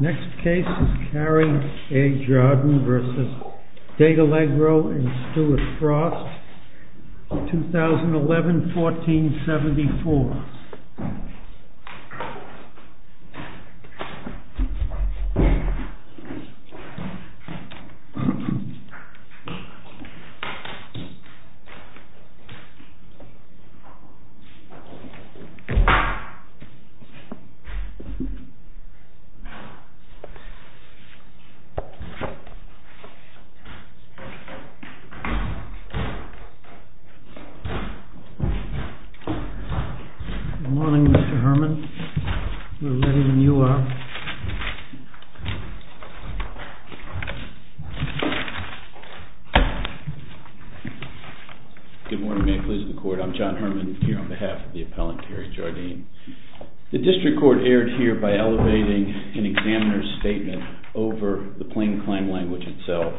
Next case is Cary A. Jardin v. Datallegro and Stuart Frost, 2011-1474. MR. HERMAN Good morning, Mr. Herman. A little later than you are. MR. HERMAN Good morning. May it please the Court. I'm John Herman here on behalf of the appellant, Cary Jardin. The District Court erred here by elevating an examiner's statement over the plain claim language itself,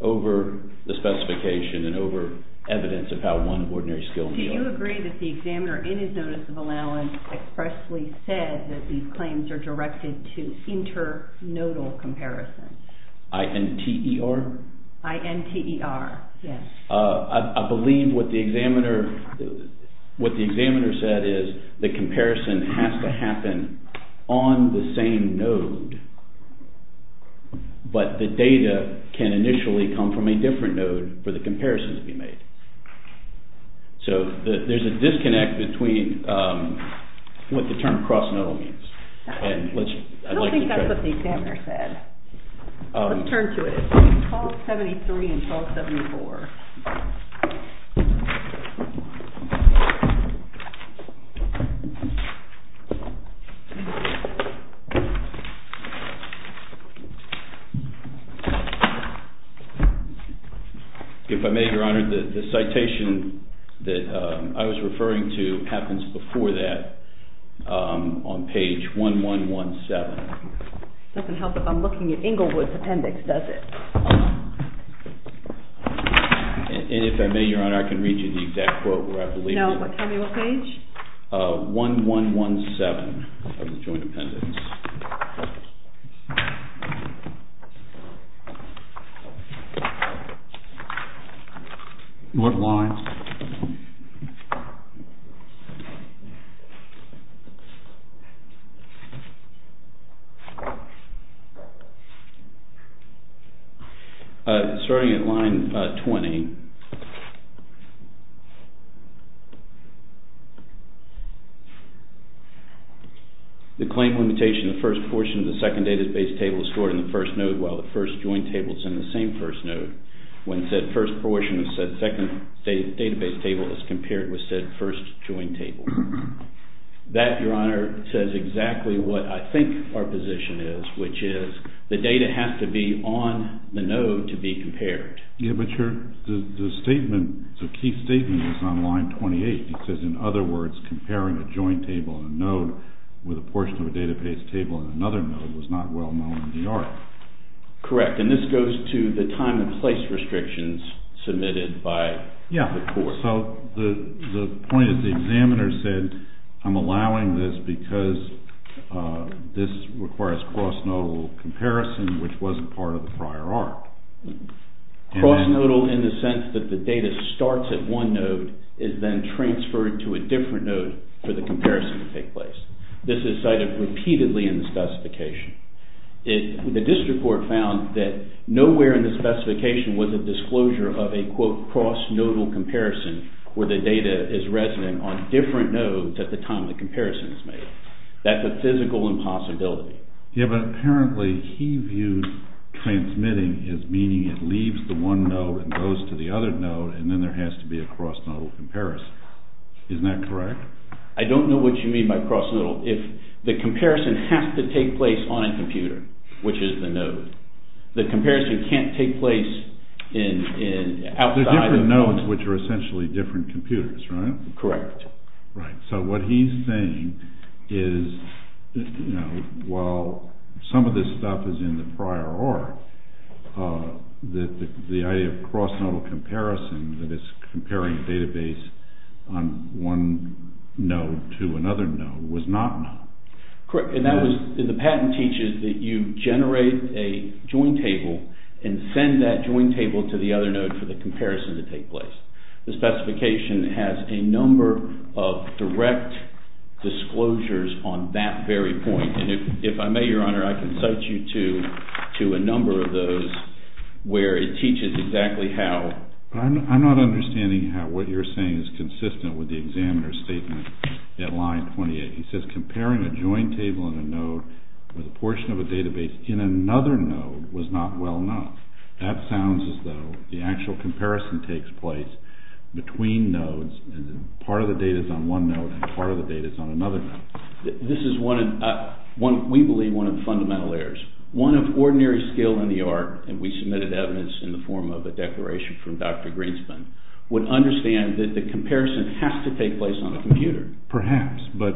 over the specification and over evidence of how one ordinary skilled... MS. JARDIN Do you agree that the examiner in his notice of allowance expressly said that these claims are directed to inter-nodal comparison? MR. HERMAN I-N-T-E-R? MS. JARDIN I-N-T-E-R, yes. MR. HERMAN I believe what the examiner said is the comparison has to happen on the same node, but the data can initially come from a different node for the comparison to be made. So there's a disconnect between what the term cross-nodal means. MS. JARDIN I don't think that's what the examiner said. Let's turn to it. 1273 and 1274. MR. HERMAN If I may, Your Honor, the citation that I was referring to happens before that on page 1117. MS. JARDIN It doesn't help that I'm looking at Englewood's appendix, does it? MR. HERMAN And if I may, Your Honor, I can read you the exact quote where I believe it is. MS. JARDIN No, tell me what page? MR. HERMAN 1117 of the joint appendix. MR. BOUTROUS What lines? MR. HERMAN Starting at line 20. The claim limitation of the first portion of the second database table is stored in the first node while the first joint table is in the same first node when said first portion of said second database table is compared with said first joint table. That, Your Honor, says exactly what I think our position is, which is the data has to be on the node to be compared. MR. HERMAN Yeah, but the statement, the key statement is on line 28. It says, in other words, comparing a joint table in a node with a portion of a database table in another node was not well known in the art. MR. BOUTROUS Correct, and this goes to the time and place restrictions submitted by the court. So the point is the examiner said, I'm allowing this because this requires cross-nodal comparison, which wasn't part of the prior art. MR. HERMAN Cross-nodal in the sense that the data starts at one node is then transferred to a different node for the comparison to take place. This is cited repeatedly in the specification. The district court found that nowhere in the specification was a disclosure of a, quote, cross-nodal comparison where the data is resident on different nodes at the time the comparison is made. That's a physical impossibility. MR. BOUTROUS Yeah, but apparently he views transmitting as meaning it leaves the one node and goes to the other node, and then there has to be a cross-nodal comparison. Isn't that correct? MR. HERMAN I don't know what you mean by cross-nodal. If the comparison has to take place on a computer, which is the node, the comparison can't take place outside of the node. MR. BOUTROUS The different nodes, which are essentially different computers, right? MR. HERMAN Correct. MR. BOUTROUS Right, so what he's saying is, while some of this stuff is in the prior art, that the idea of cross-nodal comparison, that it's comparing a database on one node to another node, was not known. MR. HERMAN Correct, and that was, the patent teaches that you generate a join table and send that join table to the other node for the comparison to take place. The specification has a number of direct disclosures on that very point, and if I may, Your Honor, I can cite you to a number of those where it teaches exactly how. MR. BOUTROUS I'm not understanding how what you're saying is consistent with the examiner's statement at line 28. He says comparing a join table in a node with a portion of a database in another node was not well known. That sounds as though the actual comparison takes place between nodes, and part of the data is on one node and part of the data is on another node. MR. HERMAN This is one, we believe, one of the fundamental errors. One of ordinary skill in the art, and we submitted evidence in the form of a declaration from Dr. Greenspan, would understand that the comparison has to take place on a computer. Perhaps, but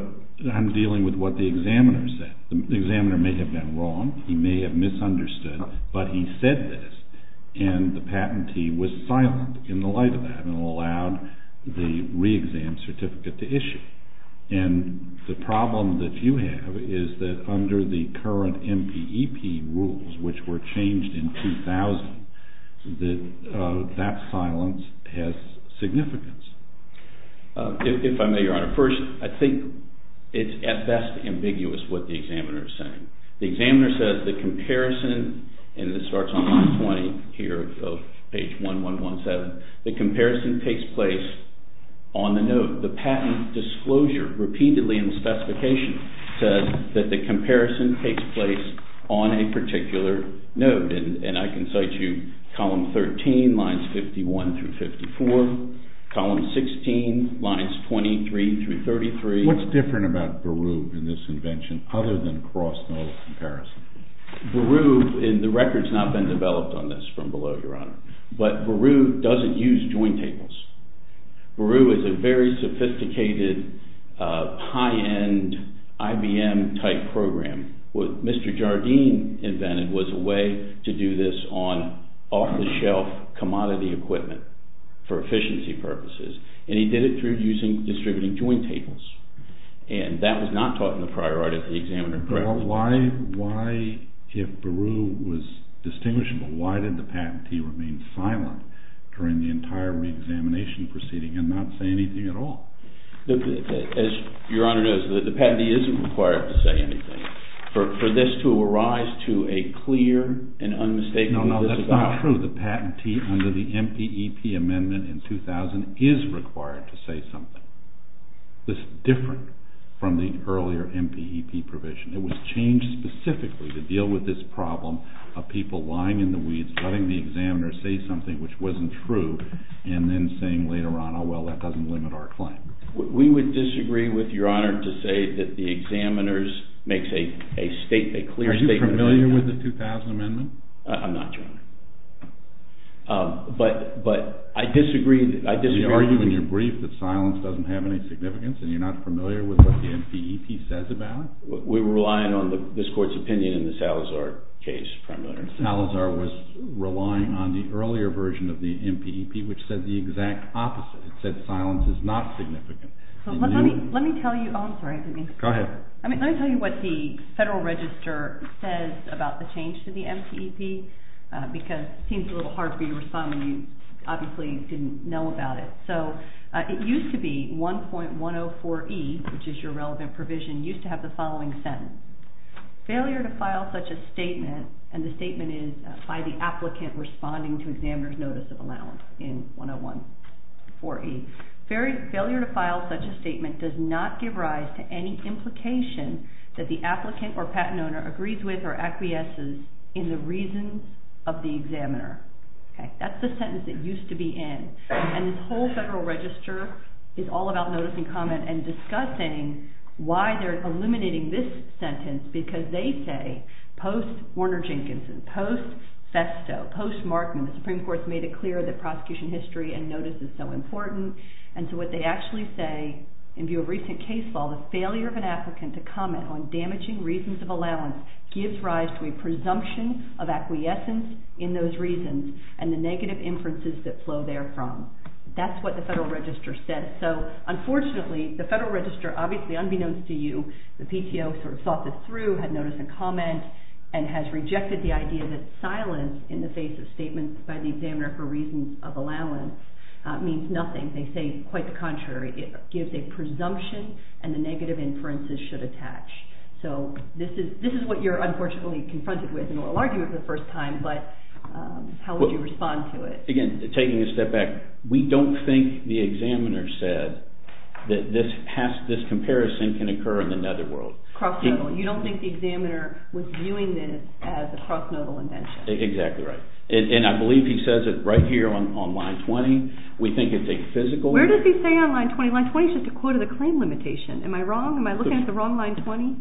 I'm dealing with what the examiner said. The examiner may have been wrong. He may have misunderstood, but he said this, and the patentee was silent in the light of that and allowed the re-exam certificate to issue. And the problem that you have is that under the current MPEP rules, which were changed in 2000, that silence has significance. If I may, Your Honor. First, I think it's at best ambiguous what the examiner is saying. The examiner says the comparison, and this starts on line 20 here of page 1117, the comparison takes place on the node. The patent disclosure repeatedly in the specification says that the comparison takes place on a particular node, and I can cite you column 13, lines 51 through 54, column 16, lines 23 through 33. What's different about Beru in this invention, other than cross-node comparison? Beru, and the record's not been developed on this from below, Your Honor, but Beru doesn't use joint tables. Beru is a very sophisticated, high-end IBM-type program. What Mr. Jardine invented was a way to do this on off-the-shelf commodity equipment for efficiency purposes, and he did it through distributing joint tables, and that was not taught in the prior art at the examiner. Why, if Beru was distinguishable, why did the patentee remain silent during the entire reexamination proceeding and not say anything at all? As Your Honor knows, the patentee isn't required to say anything. For this to arise to a clear and unmistakable disavowal... No, no, that's not true. The patentee, under the MPEP amendment in 2000, is required to say something. This is different from the earlier MPEP provision. It was changed specifically to deal with this problem of people lying in the weeds, letting the examiner say something which wasn't true, and then saying later on, oh, well, that doesn't limit our claim. We would disagree with Your Honor to say that the examiner makes a clear statement... Are you familiar with the 2000 amendment? I'm not, Your Honor. But I disagree. Are you in your brief that silence doesn't have any significance and you're not familiar with what the MPEP says about it? We were relying on this Court's opinion in the Salazar case primarily. Salazar was relying on the earlier version of the MPEP which said the exact opposite. It said silence is not significant. Let me tell you what the Federal Register says about the change to the MPEP because it seems a little hard for you to respond when you obviously didn't know about it. So it used to be 1.104e, which is your relevant provision, used to have the following sentence. Failure to file such a statement, and the statement is by the applicant responding to examiner's notice of allowance in 101.4e. Failure to file such a statement does not give rise to any implication that the applicant or patent owner agrees with or acquiesces in the reasons of the examiner. That's the sentence it used to be in. And this whole Federal Register is all about notice and comment and discussing why they're eliminating this sentence because they say post-Warner Jenkinson, post-Festo, post-Markman, the Supreme Court's made it clear that prosecution history and notice is so important. And so what they actually say, in view of recent case law, the failure of an applicant to comment on damaging reasons of allowance gives rise to a presumption of acquiescence in those reasons and the negative inferences that flow therefrom. That's what the Federal Register said. So unfortunately, the Federal Register, obviously unbeknownst to you, the PTO sort of thought this through, had notice and comment, and has rejected the idea that silence in the face of statements by the examiner for reasons of allowance means nothing. They say quite the contrary. It gives a presumption and the negative inferences should attach. So this is what you're unfortunately confronted with and will argue for the first time, but how would you respond to it? Again, taking a step back, we don't think the examiner said that this comparison can occur in the netherworld. You don't think the examiner was viewing this as a cross-nodal invention. Exactly right. And I believe he says it right here on line 20. We think it's a physical error. Where does he say on line 20? Line 20 is just a quote of the claim limitation. Am I wrong? Am I looking at the wrong line 20?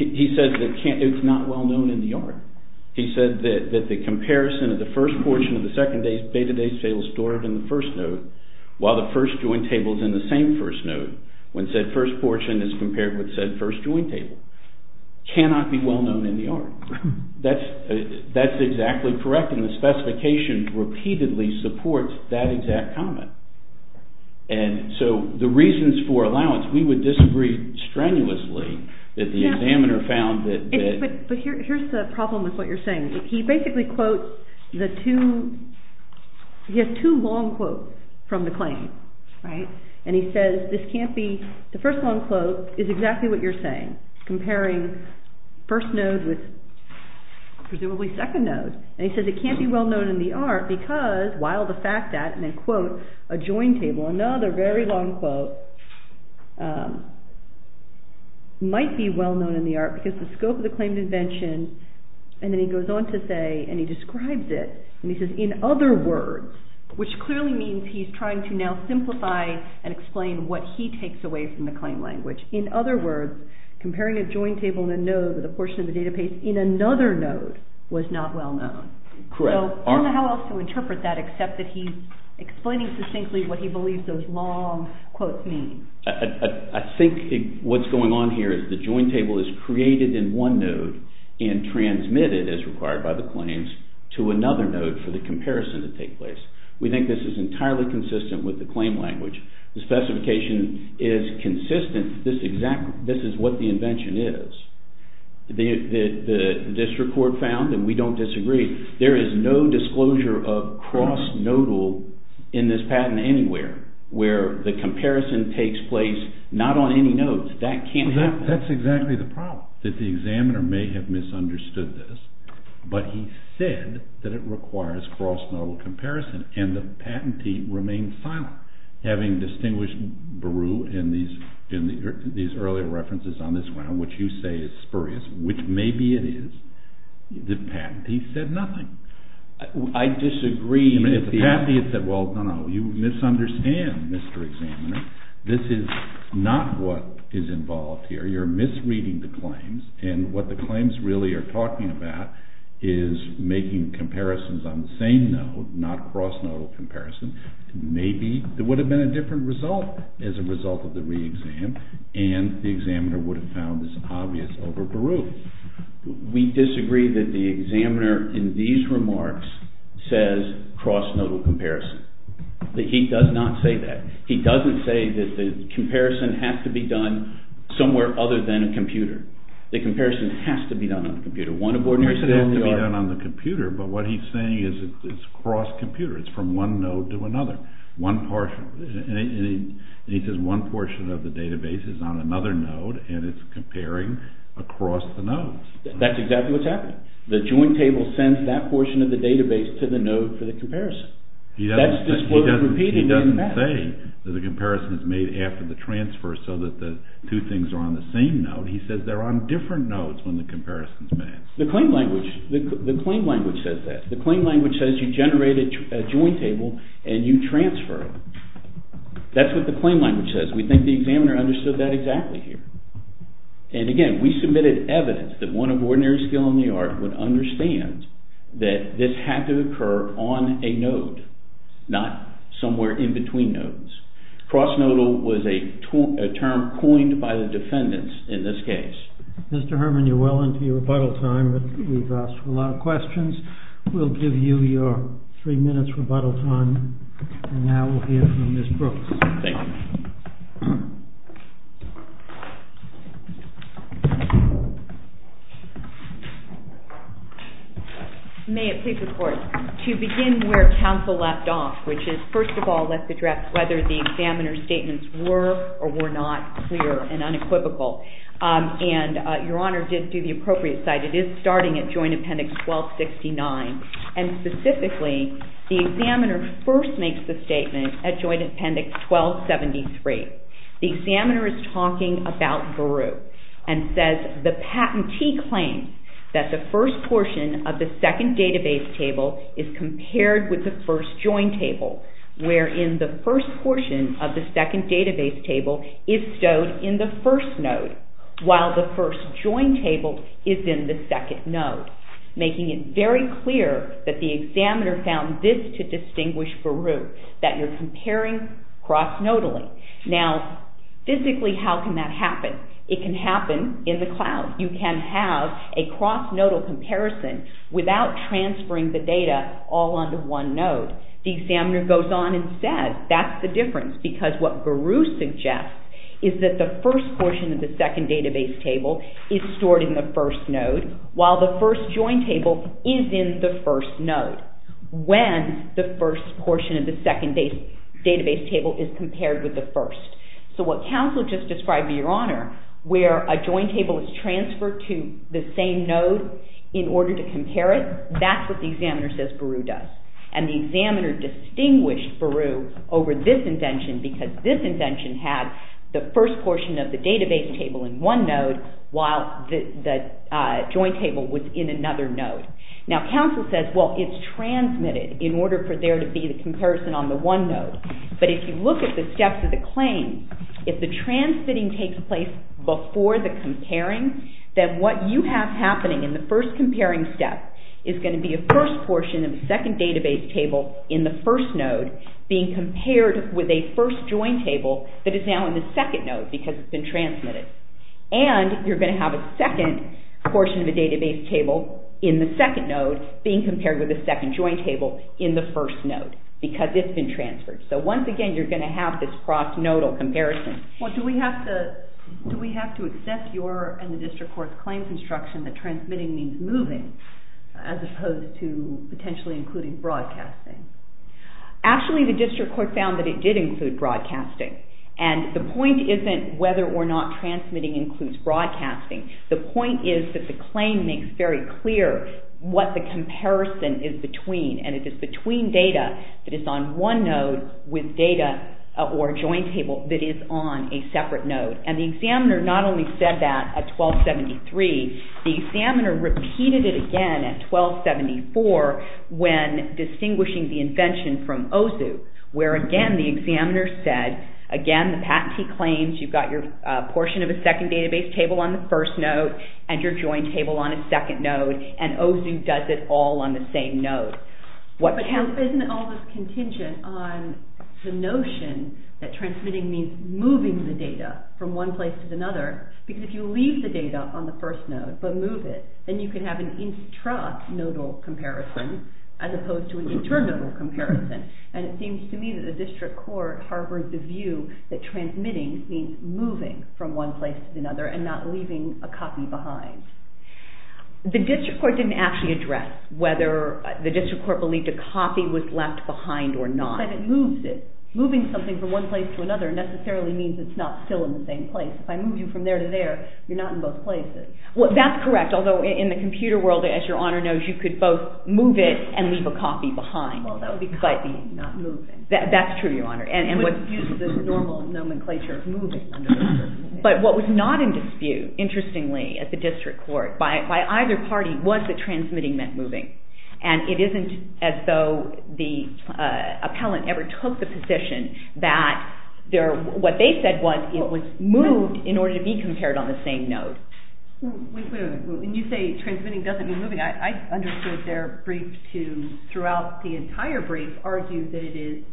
He says that it's not well known in the art. He said that the comparison of the first portion of the second day's beta data table stored in the first node, while the first joint table is in the same first node, when said first portion is compared with said first joint table, cannot be well known in the art. That's exactly correct, and the specification repeatedly supports that exact comment. And so the reasons for allowance, we would disagree strenuously that the examiner found that... But here's the problem with what you're saying. He basically quotes the two... He has two long quotes from the claim, right? And he says this can't be... The first long quote is exactly what you're saying, comparing first node with presumably second node. And he says it can't be well known in the art because, while the fact that, and then quote, a joint table, another very long quote, might be well known in the art because the scope of the claim invention, and then he goes on to say, and he describes it, and he says, in other words, which clearly means he's trying to now simplify and explain what he takes away from the claim language. In other words, comparing a joint table in a node with a portion of the database in another node was not well known. Correct. So I don't know how else to interpret that, except that he's explaining succinctly what he believes those long quotes mean. I think what's going on here is the joint table is created in one node and transmitted, as required by the claims, to another node for the comparison to take place. We think this is entirely consistent with the claim language. The specification is consistent. This is what the invention is. The district court found, and we don't disagree, there is no disclosure of cross-nodal in this patent anywhere where the comparison takes place not on any nodes. That can't happen. That's exactly the problem, that the examiner may have misunderstood this, but he said that it requires cross-nodal comparison, and the patentee remained silent. Having distinguished Beru in these earlier references on this ground, which you say is spurious, which maybe it is, the patentee said nothing. I disagree. The patentee said, well, no, no, you misunderstand, Mr. Examiner. This is not what is involved here. You're misreading the claims, and what the claims really are talking about is making comparisons on the same node, not cross-nodal comparison. Maybe there would have been a different result as a result of the re-exam, and the examiner would have found this obvious over Beru. We disagree that the examiner in these remarks says cross-nodal comparison. He does not say that. He doesn't say that the comparison has to be done somewhere other than a computer. The comparison has to be done on a computer. He says it has to be done on the computer, but what he's saying is it's cross-computer. It's from one node to another. He says one portion of the database is on another node, and it's comparing across the nodes. That's exactly what's happening. The joint table sends that portion of the database to the node for the comparison. He doesn't say that the comparison is made after the transfer so that the two things are on the same node. He says they're on different nodes when the comparison is made. The claim language says that. The claim language says you generate a joint table and you transfer it. That's what the claim language says. We think the examiner understood that exactly here. And again, we submitted evidence that one of ordinary skill in the art would understand that this had to occur on a node, not somewhere in between nodes. Cross nodal was a term coined by the defendants in this case. Mr. Herman, you're well into your rebuttal time, but we've asked a lot of questions. We'll give you your three minutes rebuttal time, and now we'll hear from Ms. Brooks. Thank you. May it please the Court, to begin where counsel left off, which is, first of all, let's address whether the examiner's statements were or were not clear and unequivocal. And Your Honor did do the appropriate side. It is starting at Joint Appendix 1269. And specifically, the examiner first makes the statement at Joint Appendix 1273. The examiner is talking about Baruch and says the patentee claims that the first portion of the second database table is compared with the first joint table, wherein the first portion of the second database table is stowed in the first node, while the first joint table is in the second node, making it very clear that the examiner found this to distinguish Baruch, that you're comparing cross nodally. Now, physically, how can that happen? It can happen in the cloud. You can have a cross nodal comparison without transferring the data all onto one node. The examiner goes on and says that's the difference, because what Baruch suggests is that the first portion of the second database table is stored in the first node, while the first joint table is in the first node, when the first portion of the second database table is compared with the first. So what counsel just described, Your Honor, where a joint table is transferred to the same node in order to compare it, that's what the examiner says Baruch does. And the examiner distinguished Baruch over this invention, because this invention had the first portion of the database table in one node, while the joint table was in another node. Now, counsel says, well, it's transmitted, in order for there to be the comparison on the one node. But if you look at the steps of the claim, if the transmitting takes place before the comparing, then what you have happening in the first comparing step is going to be a first portion of the second database table in the first node being compared with a first joint table that is now in the second node, because it's been transmitted. And you're going to have a second portion of the database table in the second node being compared with a second joint table in the first node, because it's been transferred. So, once again, you're going to have this cross-nodal comparison. Well, do we have to accept your and the district court's claims instruction that transmitting means moving, as opposed to potentially including broadcasting? Actually, the district court found that it did include broadcasting. And the point isn't whether or not transmitting includes broadcasting. The point is that the claim makes very clear what the comparison is between, and it is between data that is on one node with data or a joint table that is on a separate node. And the examiner not only said that at 1273, the examiner repeated it again at 1274 when distinguishing the invention from OZU, where, again, the examiner said, again, the patentee claims you've got your portion of a second database table on the first node and your joint table on a second node, and OZU does it all on the same node. But isn't all this contingent on the notion that transmitting means moving the data from one place to another? Because if you leave the data on the first node but move it, then you can have an intra-nodal comparison as opposed to an inter-nodal comparison. And it seems to me that the district court harbored the view that transmitting means moving from one place to another and not leaving a copy behind. The district court didn't actually address whether the district court believed a copy was left behind or not. But it moves it. Moving something from one place to another necessarily means it's not still in the same place. If I move you from there to there, you're not in both places. That's correct, although in the computer world, as Your Honor knows, you could both move it and leave a copy behind. Well, that would be copying, not moving. You wouldn't use the normal nomenclature of moving. But what was not in dispute, interestingly, at the district court, by either party, was that transmitting meant moving. And it isn't as though the appellant ever took the position that what they said was it was moved in order to be compared on the same node. Wait a minute. When you say transmitting doesn't mean moving, I understood their brief to, throughout the entire brief, argue that it is,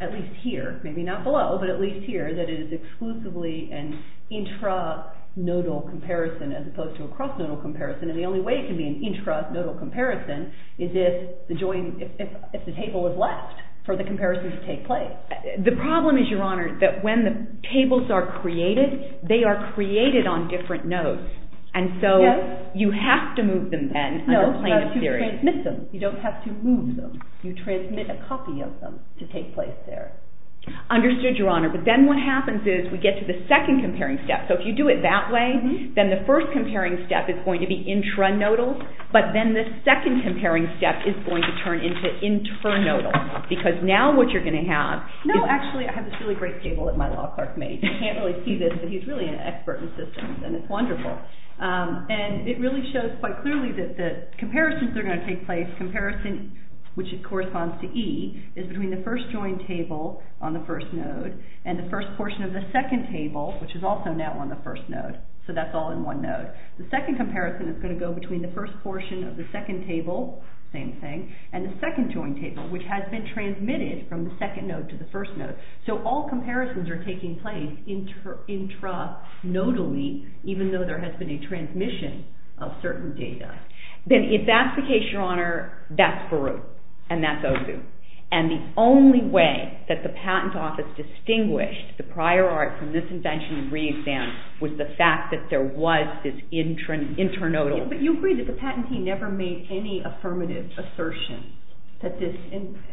at least here, maybe not below, but at least here, that it is exclusively an intra-nodal comparison as opposed to a cross-nodal comparison. And the only way it can be an intra-nodal comparison is if the table is left for the comparison to take place. The problem is, Your Honor, that when the tables are created, they are created on different nodes. And so you have to move them then under a plane of theory. No, but you transmit them. You don't have to move them. You transmit a copy of them to take place there. Understood, Your Honor. But then what happens is we get to the second comparing step. So if you do it that way, then the first comparing step is going to be intra-nodal, but then the second comparing step is going to turn into inter-nodal. Because now what you're going to have is... No, actually, I have this really great table that Milo Clark made. You can't really see this, but he's really an expert in systems, and it's wonderful. And it really shows quite clearly that the comparisons are going to take place, so the comparison, which corresponds to E, is between the first joined table on the first node and the first portion of the second table, which is also now on the first node. So that's all in one node. The second comparison is going to go between the first portion of the second table, same thing, and the second joined table, which has been transmitted from the second node to the first node. So all comparisons are taking place intra-nodally, even though there has been a transmission of certain data. Then, if that's the case, Your Honor, that's Baruch, and that's Ozu. And the only way that the Patent Office distinguished the prior art from this invention and re-examined was the fact that there was this intra-nodal... But you agree that the Patentee never made any affirmative assertion that this,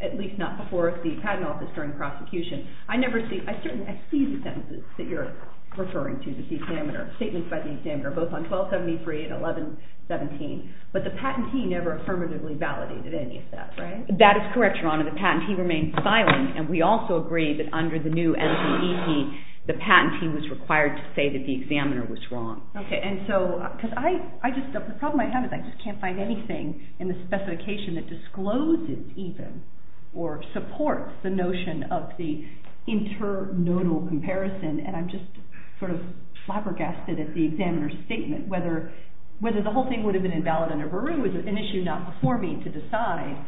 at least not before the Patent Office during prosecution. I never see... I certainly see the sentences that you're referring to, statements by the examiner, both on 1273 and 1117. But the Patentee never affirmatively validated any of that, right? That is correct, Your Honor. The Patentee remained silent, and we also agree that under the new NCEE, the Patentee was required to say that the examiner was wrong. Okay, and so... The problem I have is I just can't find anything in the specification that discloses, even, or supports the notion of the intra-nodal comparison, and I'm just sort of flabbergasted at the examiner's statement. Whether the whole thing would have been invalid under Baruch is an issue not before me to decide,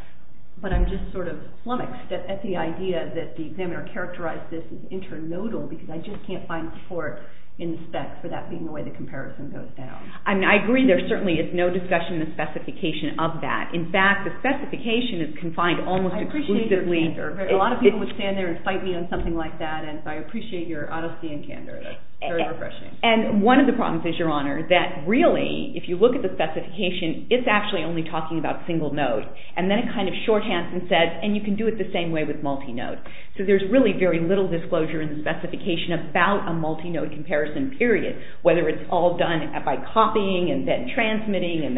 but I'm just sort of flummoxed at the idea that the examiner characterized this as intra-nodal because I just can't find support in the specs for that being the way the comparison goes down. I mean, I agree there certainly is no discussion in the specification of that. In fact, the specification is confined almost exclusively... I appreciate your answer. A lot of people would stand there and fight me on something like that, and so I appreciate your honesty and candor. That's very refreshing. And one of the problems is, Your Honor, that really, if you look at the specification, it's actually only talking about single node, and then it kind of shorthands and says, and you can do it the same way with multi-node. So there's really very little disclosure in the specification about a multi-node comparison, period, whether it's all done by copying and then transmitting and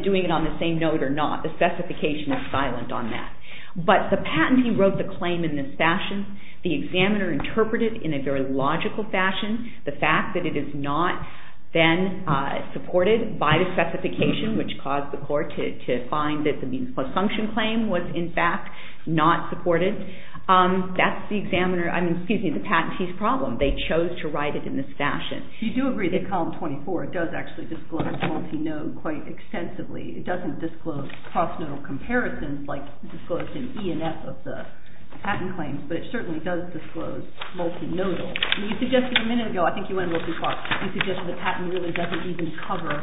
doing it on the same node or not. The specification is silent on that. But the patentee wrote the claim in this fashion. The examiner interpreted it in a very logical fashion. The fact that it is not then supported by the specification, which caused the court to find that the means-plus-function claim was, in fact, not supported. That's the patentee's problem. They chose to write it in this fashion. You do agree that Column 24 does actually disclose multi-node quite extensively. It doesn't disclose cross-nodal comparisons like disclosed in E and F of the patent claims, but it certainly does disclose multi-nodal. You suggested a minute ago, I think you went a little too far, you suggested the patent really doesn't even cover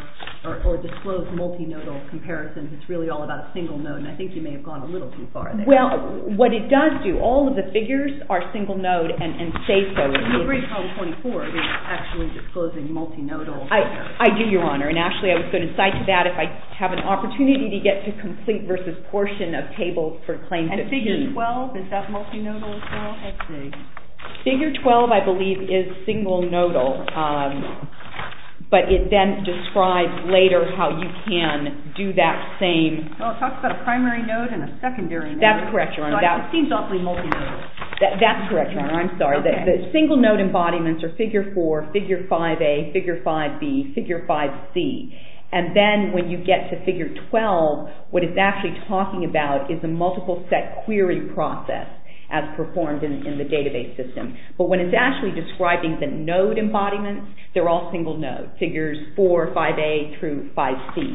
or disclose multi-nodal comparisons. It's really all about a single node. And I think you may have gone a little too far there. Well, what it does do, all of the figures are single node and say so. You agree Column 24 is actually disclosing multi-nodal. I do, Your Honor. And actually, I was going to cite to that if I have an opportunity to get to complete versus portion of tables for claims that do. Figure 12, is that multi-nodal as well? Let's see. Figure 12, I believe, is single nodal. But it then describes later how you can do that same. Well, it talks about a primary node and a secondary node. That's correct, Your Honor. So it seems awfully multi-nodal. That's correct, Your Honor. I'm sorry. The single node embodiments are figure 4, figure 5A, figure 5B, figure 5C. And then when you get to figure 12, what it's actually talking about is a multiple set query process as performed in the database system. But when it's actually describing the node embodiments, they're all single node. Figures 4, 5A, through 5C.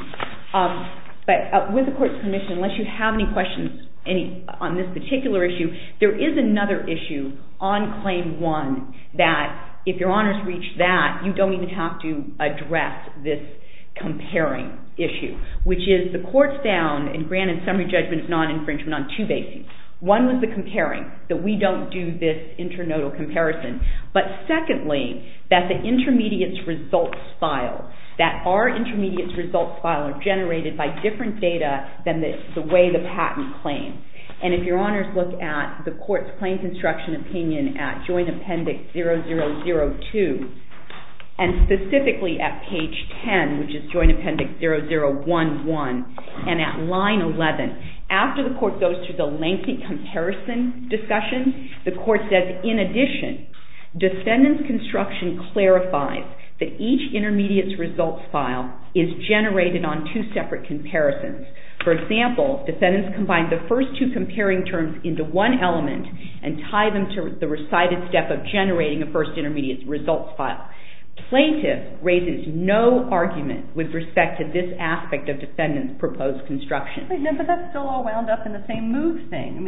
But with the Court's permission, unless you have any questions on this particular issue, there is another issue on Claim 1 that if Your Honor's reached that, you don't even have to address this comparing issue, which is the Court's down and granted summary judgment of non-infringement on two bases. One was the comparing, that we don't do this inter-nodal comparison. But secondly, that the intermediates results file, that our intermediates results file are generated by different data than the way the patent claims. And if Your Honors look at the Court's claims instruction opinion at Joint Appendix 0002, and specifically at page 10, which is Joint Appendix 0011, and at line 11. After the Court goes through the lengthy comparison discussion, the Court says, in addition, defendant's construction clarifies that each intermediates results file is generated on two separate comparisons. For example, defendants combine the first two comparing terms into one element and tie them to the recited step of generating a first intermediates results file. Plaintiff raises no argument with respect to this aspect of defendant's proposed construction. But that's still all wound up in the same move thing.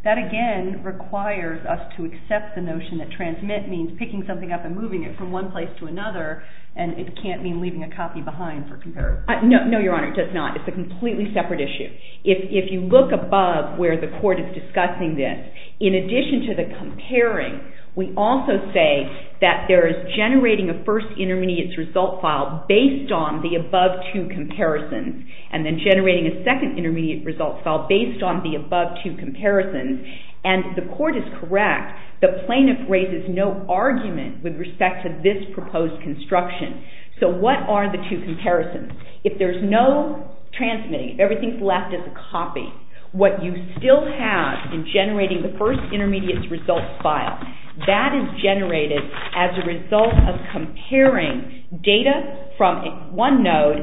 That, again, requires us to accept the notion that transmit means picking something up and moving it from one place to another. And it can't mean leaving a copy behind for comparison. No, Your Honor, it does not. It's a completely separate issue. If you look above where the Court is discussing this, in addition to the comparing, we also say that there is generating a first intermediates result file based on the above two comparisons, and then generating a second intermediate results file based on the above two comparisons. And the Court is correct. The plaintiff raises no argument with respect to this proposed construction. So what are the two comparisons? If there's no transmitting, everything's left as a copy, what you still have in generating the first intermediates results file. That is generated as a result of comparing data from one node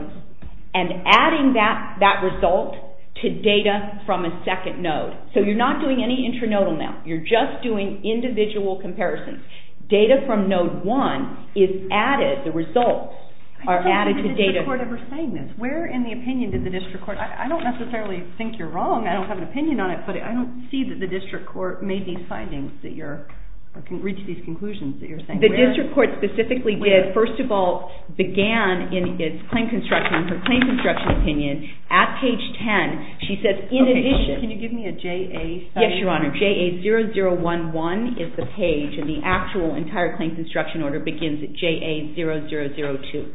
and adding that result to data from a second node. So you're not doing any intranodal now. You're just doing individual comparisons. Data from node one is added. The results are added to data. I don't think the district court ever saying this. Where in the opinion did the district court? I don't necessarily think you're wrong. I don't have an opinion on it, but I don't see that the district court made these findings that you're or can reach these conclusions that you're saying. The district court specifically did, first of all, began in its claim construction, her claim construction opinion, at page 10. She says, in addition. Can you give me a JA study? Yes, Your Honor. JA 0011 is the page, and the actual entire claim construction order begins at JA 0002.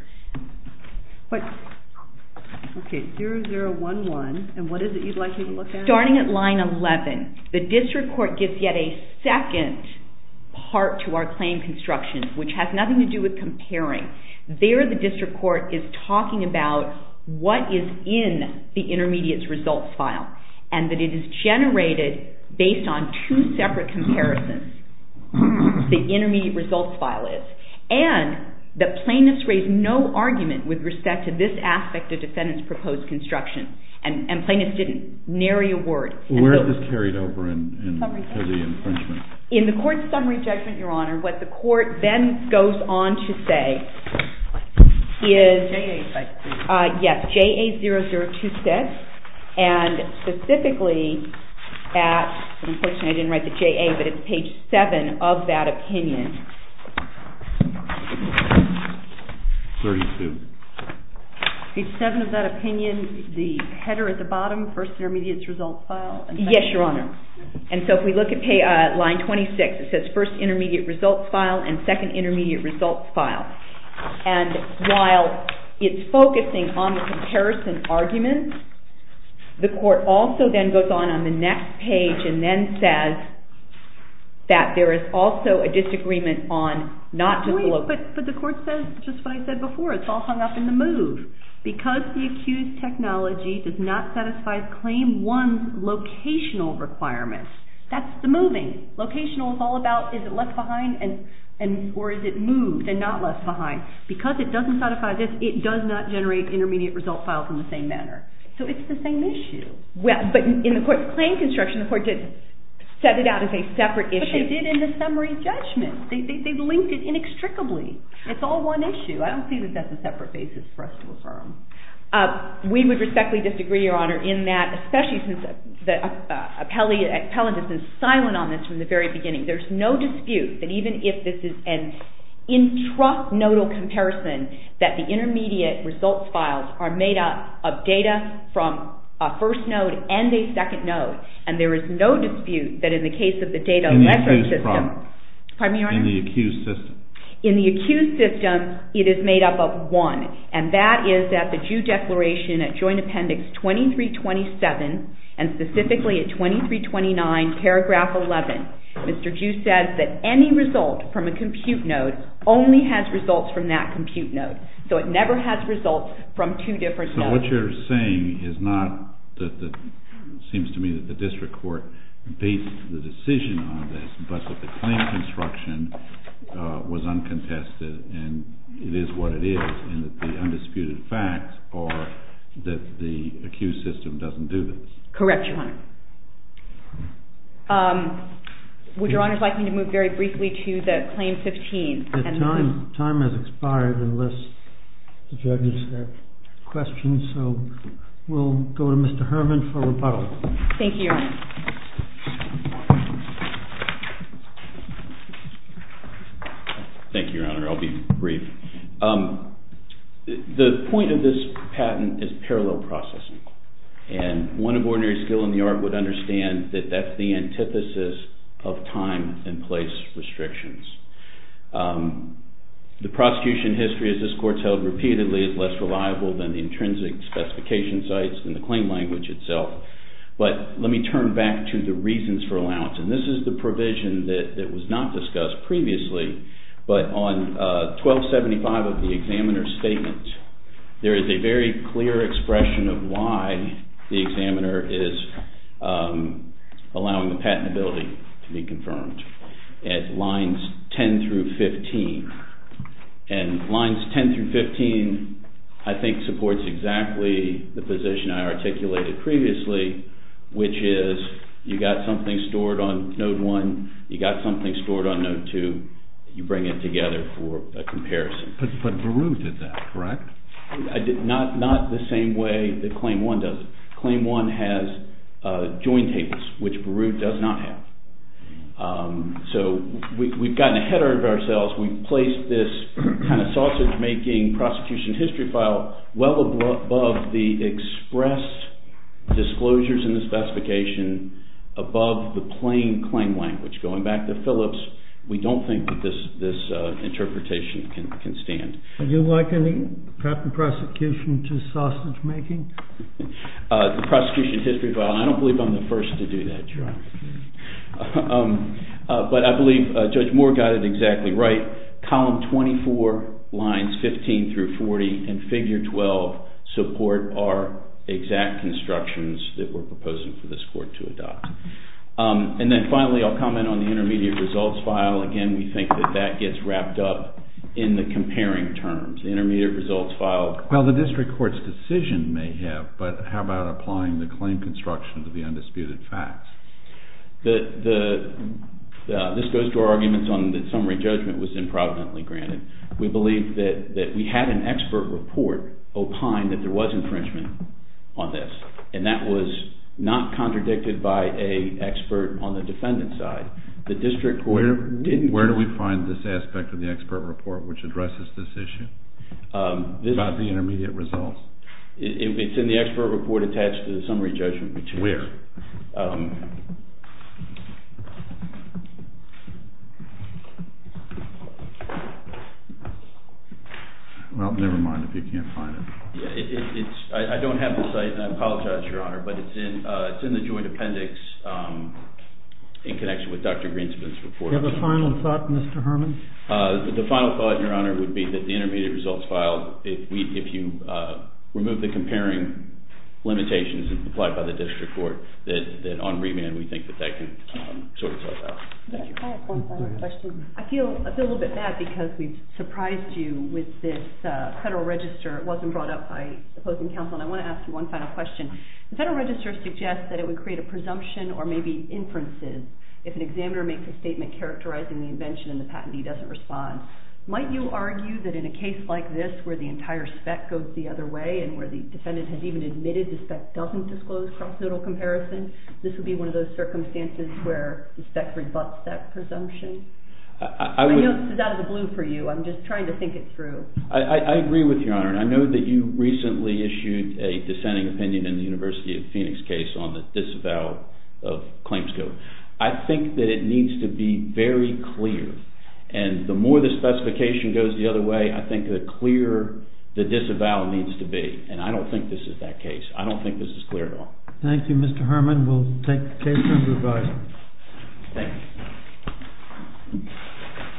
OK, 0011. And what is it you'd like me to look at? Starting at line 11, the district court gives yet a second part to our claim construction, which has nothing to do with comparing. There, the district court is talking about what is in the intermediates results file, and that it is generated based on two separate comparisons, the intermediate results file is. And the plaintiffs raised no argument with respect to this aspect of defendant's proposed construction. And plaintiffs didn't. Nary a word. Well, where is this carried over into the infringement? In the court's summary judgment, Your Honor, what the court then goes on to say is. JA 0026. Yes, JA 0026. And specifically at, unfortunately, I didn't write the JA, but it's page 7 of that opinion. 32. Page 7 of that opinion, the header at the bottom, first intermediates results file. Yes, Your Honor. And so if we look at line 26, it says, first intermediate results file and second intermediate results file. And while it's focusing on the comparison argument, the court also then goes on on the next page and then says that there is also a disagreement on not to look. But the court says just what I said before. It's all hung up in the move. Because the accused's technology does not satisfy claim one's locational requirements, that's the moving. Locational is all about is it left behind or is it moved and not left behind. Because it doesn't satisfy this, it does not generate intermediate results files in the same manner. So it's the same issue. Well, but in the court's claim construction, the court did set it out as a separate issue. But they did in the summary judgment. They've linked it inextricably. It's all one issue. I don't see that that's a separate basis for us to affirm. We would respectfully disagree, Your Honor, in that especially since the appellant is silent on this from the very beginning. There's no dispute that even if this is an intranodal comparison, that the intermediate results files are made up of data from a first node and a second node. And there is no dispute that in the case of the data In the accused system. Pardon me, Your Honor? In the accused system. In the accused system, it is made up of one. And that is that the Jew declaration at joint appendix 2327 and specifically at 2329 paragraph 11, Mr. Jew says that any result from a compute node only has results from that compute node. So it never has results from two different nodes. So what you're saying is not that it seems to me that the district court based the decision on this, but that the claim construction was uncontested and it is what it is. And that the undisputed facts are that the accused system doesn't do this. Correct, Your Honor. Would Your Honor like me to move very briefly to the claim 15? The time has expired unless the judges have questions. So we'll go to Mr. Herman for rebuttal. Thank you, Your Honor. Thank you, Your Honor. I'll be brief. The point of this patent is parallel processing. And one of ordinary skill in the art would understand that that's the antithesis of time and place restrictions. The prosecution history, as this court's held repeatedly, is less reliable than the intrinsic specification sites and the claim language itself. But let me turn back to the reasons for allowance. And this is the provision that was not discussed previously. But on 1275 of the examiner's statement, there is a very clear expression of why the examiner is allowing the patentability to be confirmed at lines 10 through 15. And lines 10 through 15, I think, supports exactly the position I articulated previously, which is you've got something stored on node one. You've got something stored on node two. You bring it together for a comparison. But Baruch did that, correct? Not the same way that claim one does it. Claim one has joint tables, which Baruch does not have. So we've gotten ahead of ourselves. We've placed this kind of sausage-making prosecution history file well above the expressed disclosures in the specification, above the plain claim language. Going back to Phillips, we don't think that this interpretation can stand. Would you like any proper prosecution to sausage-making? The prosecution history file. And I don't believe I'm the first to do that. Sure. But I believe Judge Moore got it exactly right. Column 24, lines 15 through 40, and figure 12 support our exact constructions that we're proposing for this court to adopt. And then finally, I'll comment on the intermediate results file. Again, we think that that gets wrapped up in the comparing terms. The intermediate results file. Well, the district court's decision may have. But how about applying the claim construction to the undisputed facts? This goes to our arguments on the summary judgment was improvidently granted. We believe that we had an expert report opine that there was infringement on this. And that was not contradicted by a expert on the defendant side. The district court didn't. Where do we find this aspect of the expert report which addresses this issue about the intermediate results? It's in the expert report attached to the summary judgment. Where? Well, never mind if you can't find it. I don't have the site. And I apologize, Your Honor. But it's in the joint appendix in connection with Dr. Greenspan's report. Do you have a final thought, Mr. Herman? The final thought, Your Honor, would be that the intermediate results file, if you remove the comparing limitations applied by the district court, that on remand we think that that can sort itself out. I have one final question. I feel a little bit bad because we've surprised you with this Federal Register. It wasn't brought up by opposing counsel. And I want to ask you one final question. The Federal Register suggests that it would create a presumption or maybe inferences if an examiner makes a statement characterizing the invention and the patentee doesn't respond. Might you argue that in a case like this where the entire spec goes the other way and where the defendant has even admitted the spec doesn't disclose cross-federal comparison, this would be one of those circumstances where the spec rebuts that presumption? I know this is out of the blue for you. I'm just trying to think it through. I agree with you, Your Honor. And I know that you recently issued a dissenting opinion in the University of Phoenix case on the disavowal of claims code. I think that it needs to be very clear. And the more the specification goes the other way, I think the clearer the disavowal needs to be. And I don't think this is that case. I don't think this is clear at all. Thank you, Mr. Herman. We'll take the case and move on.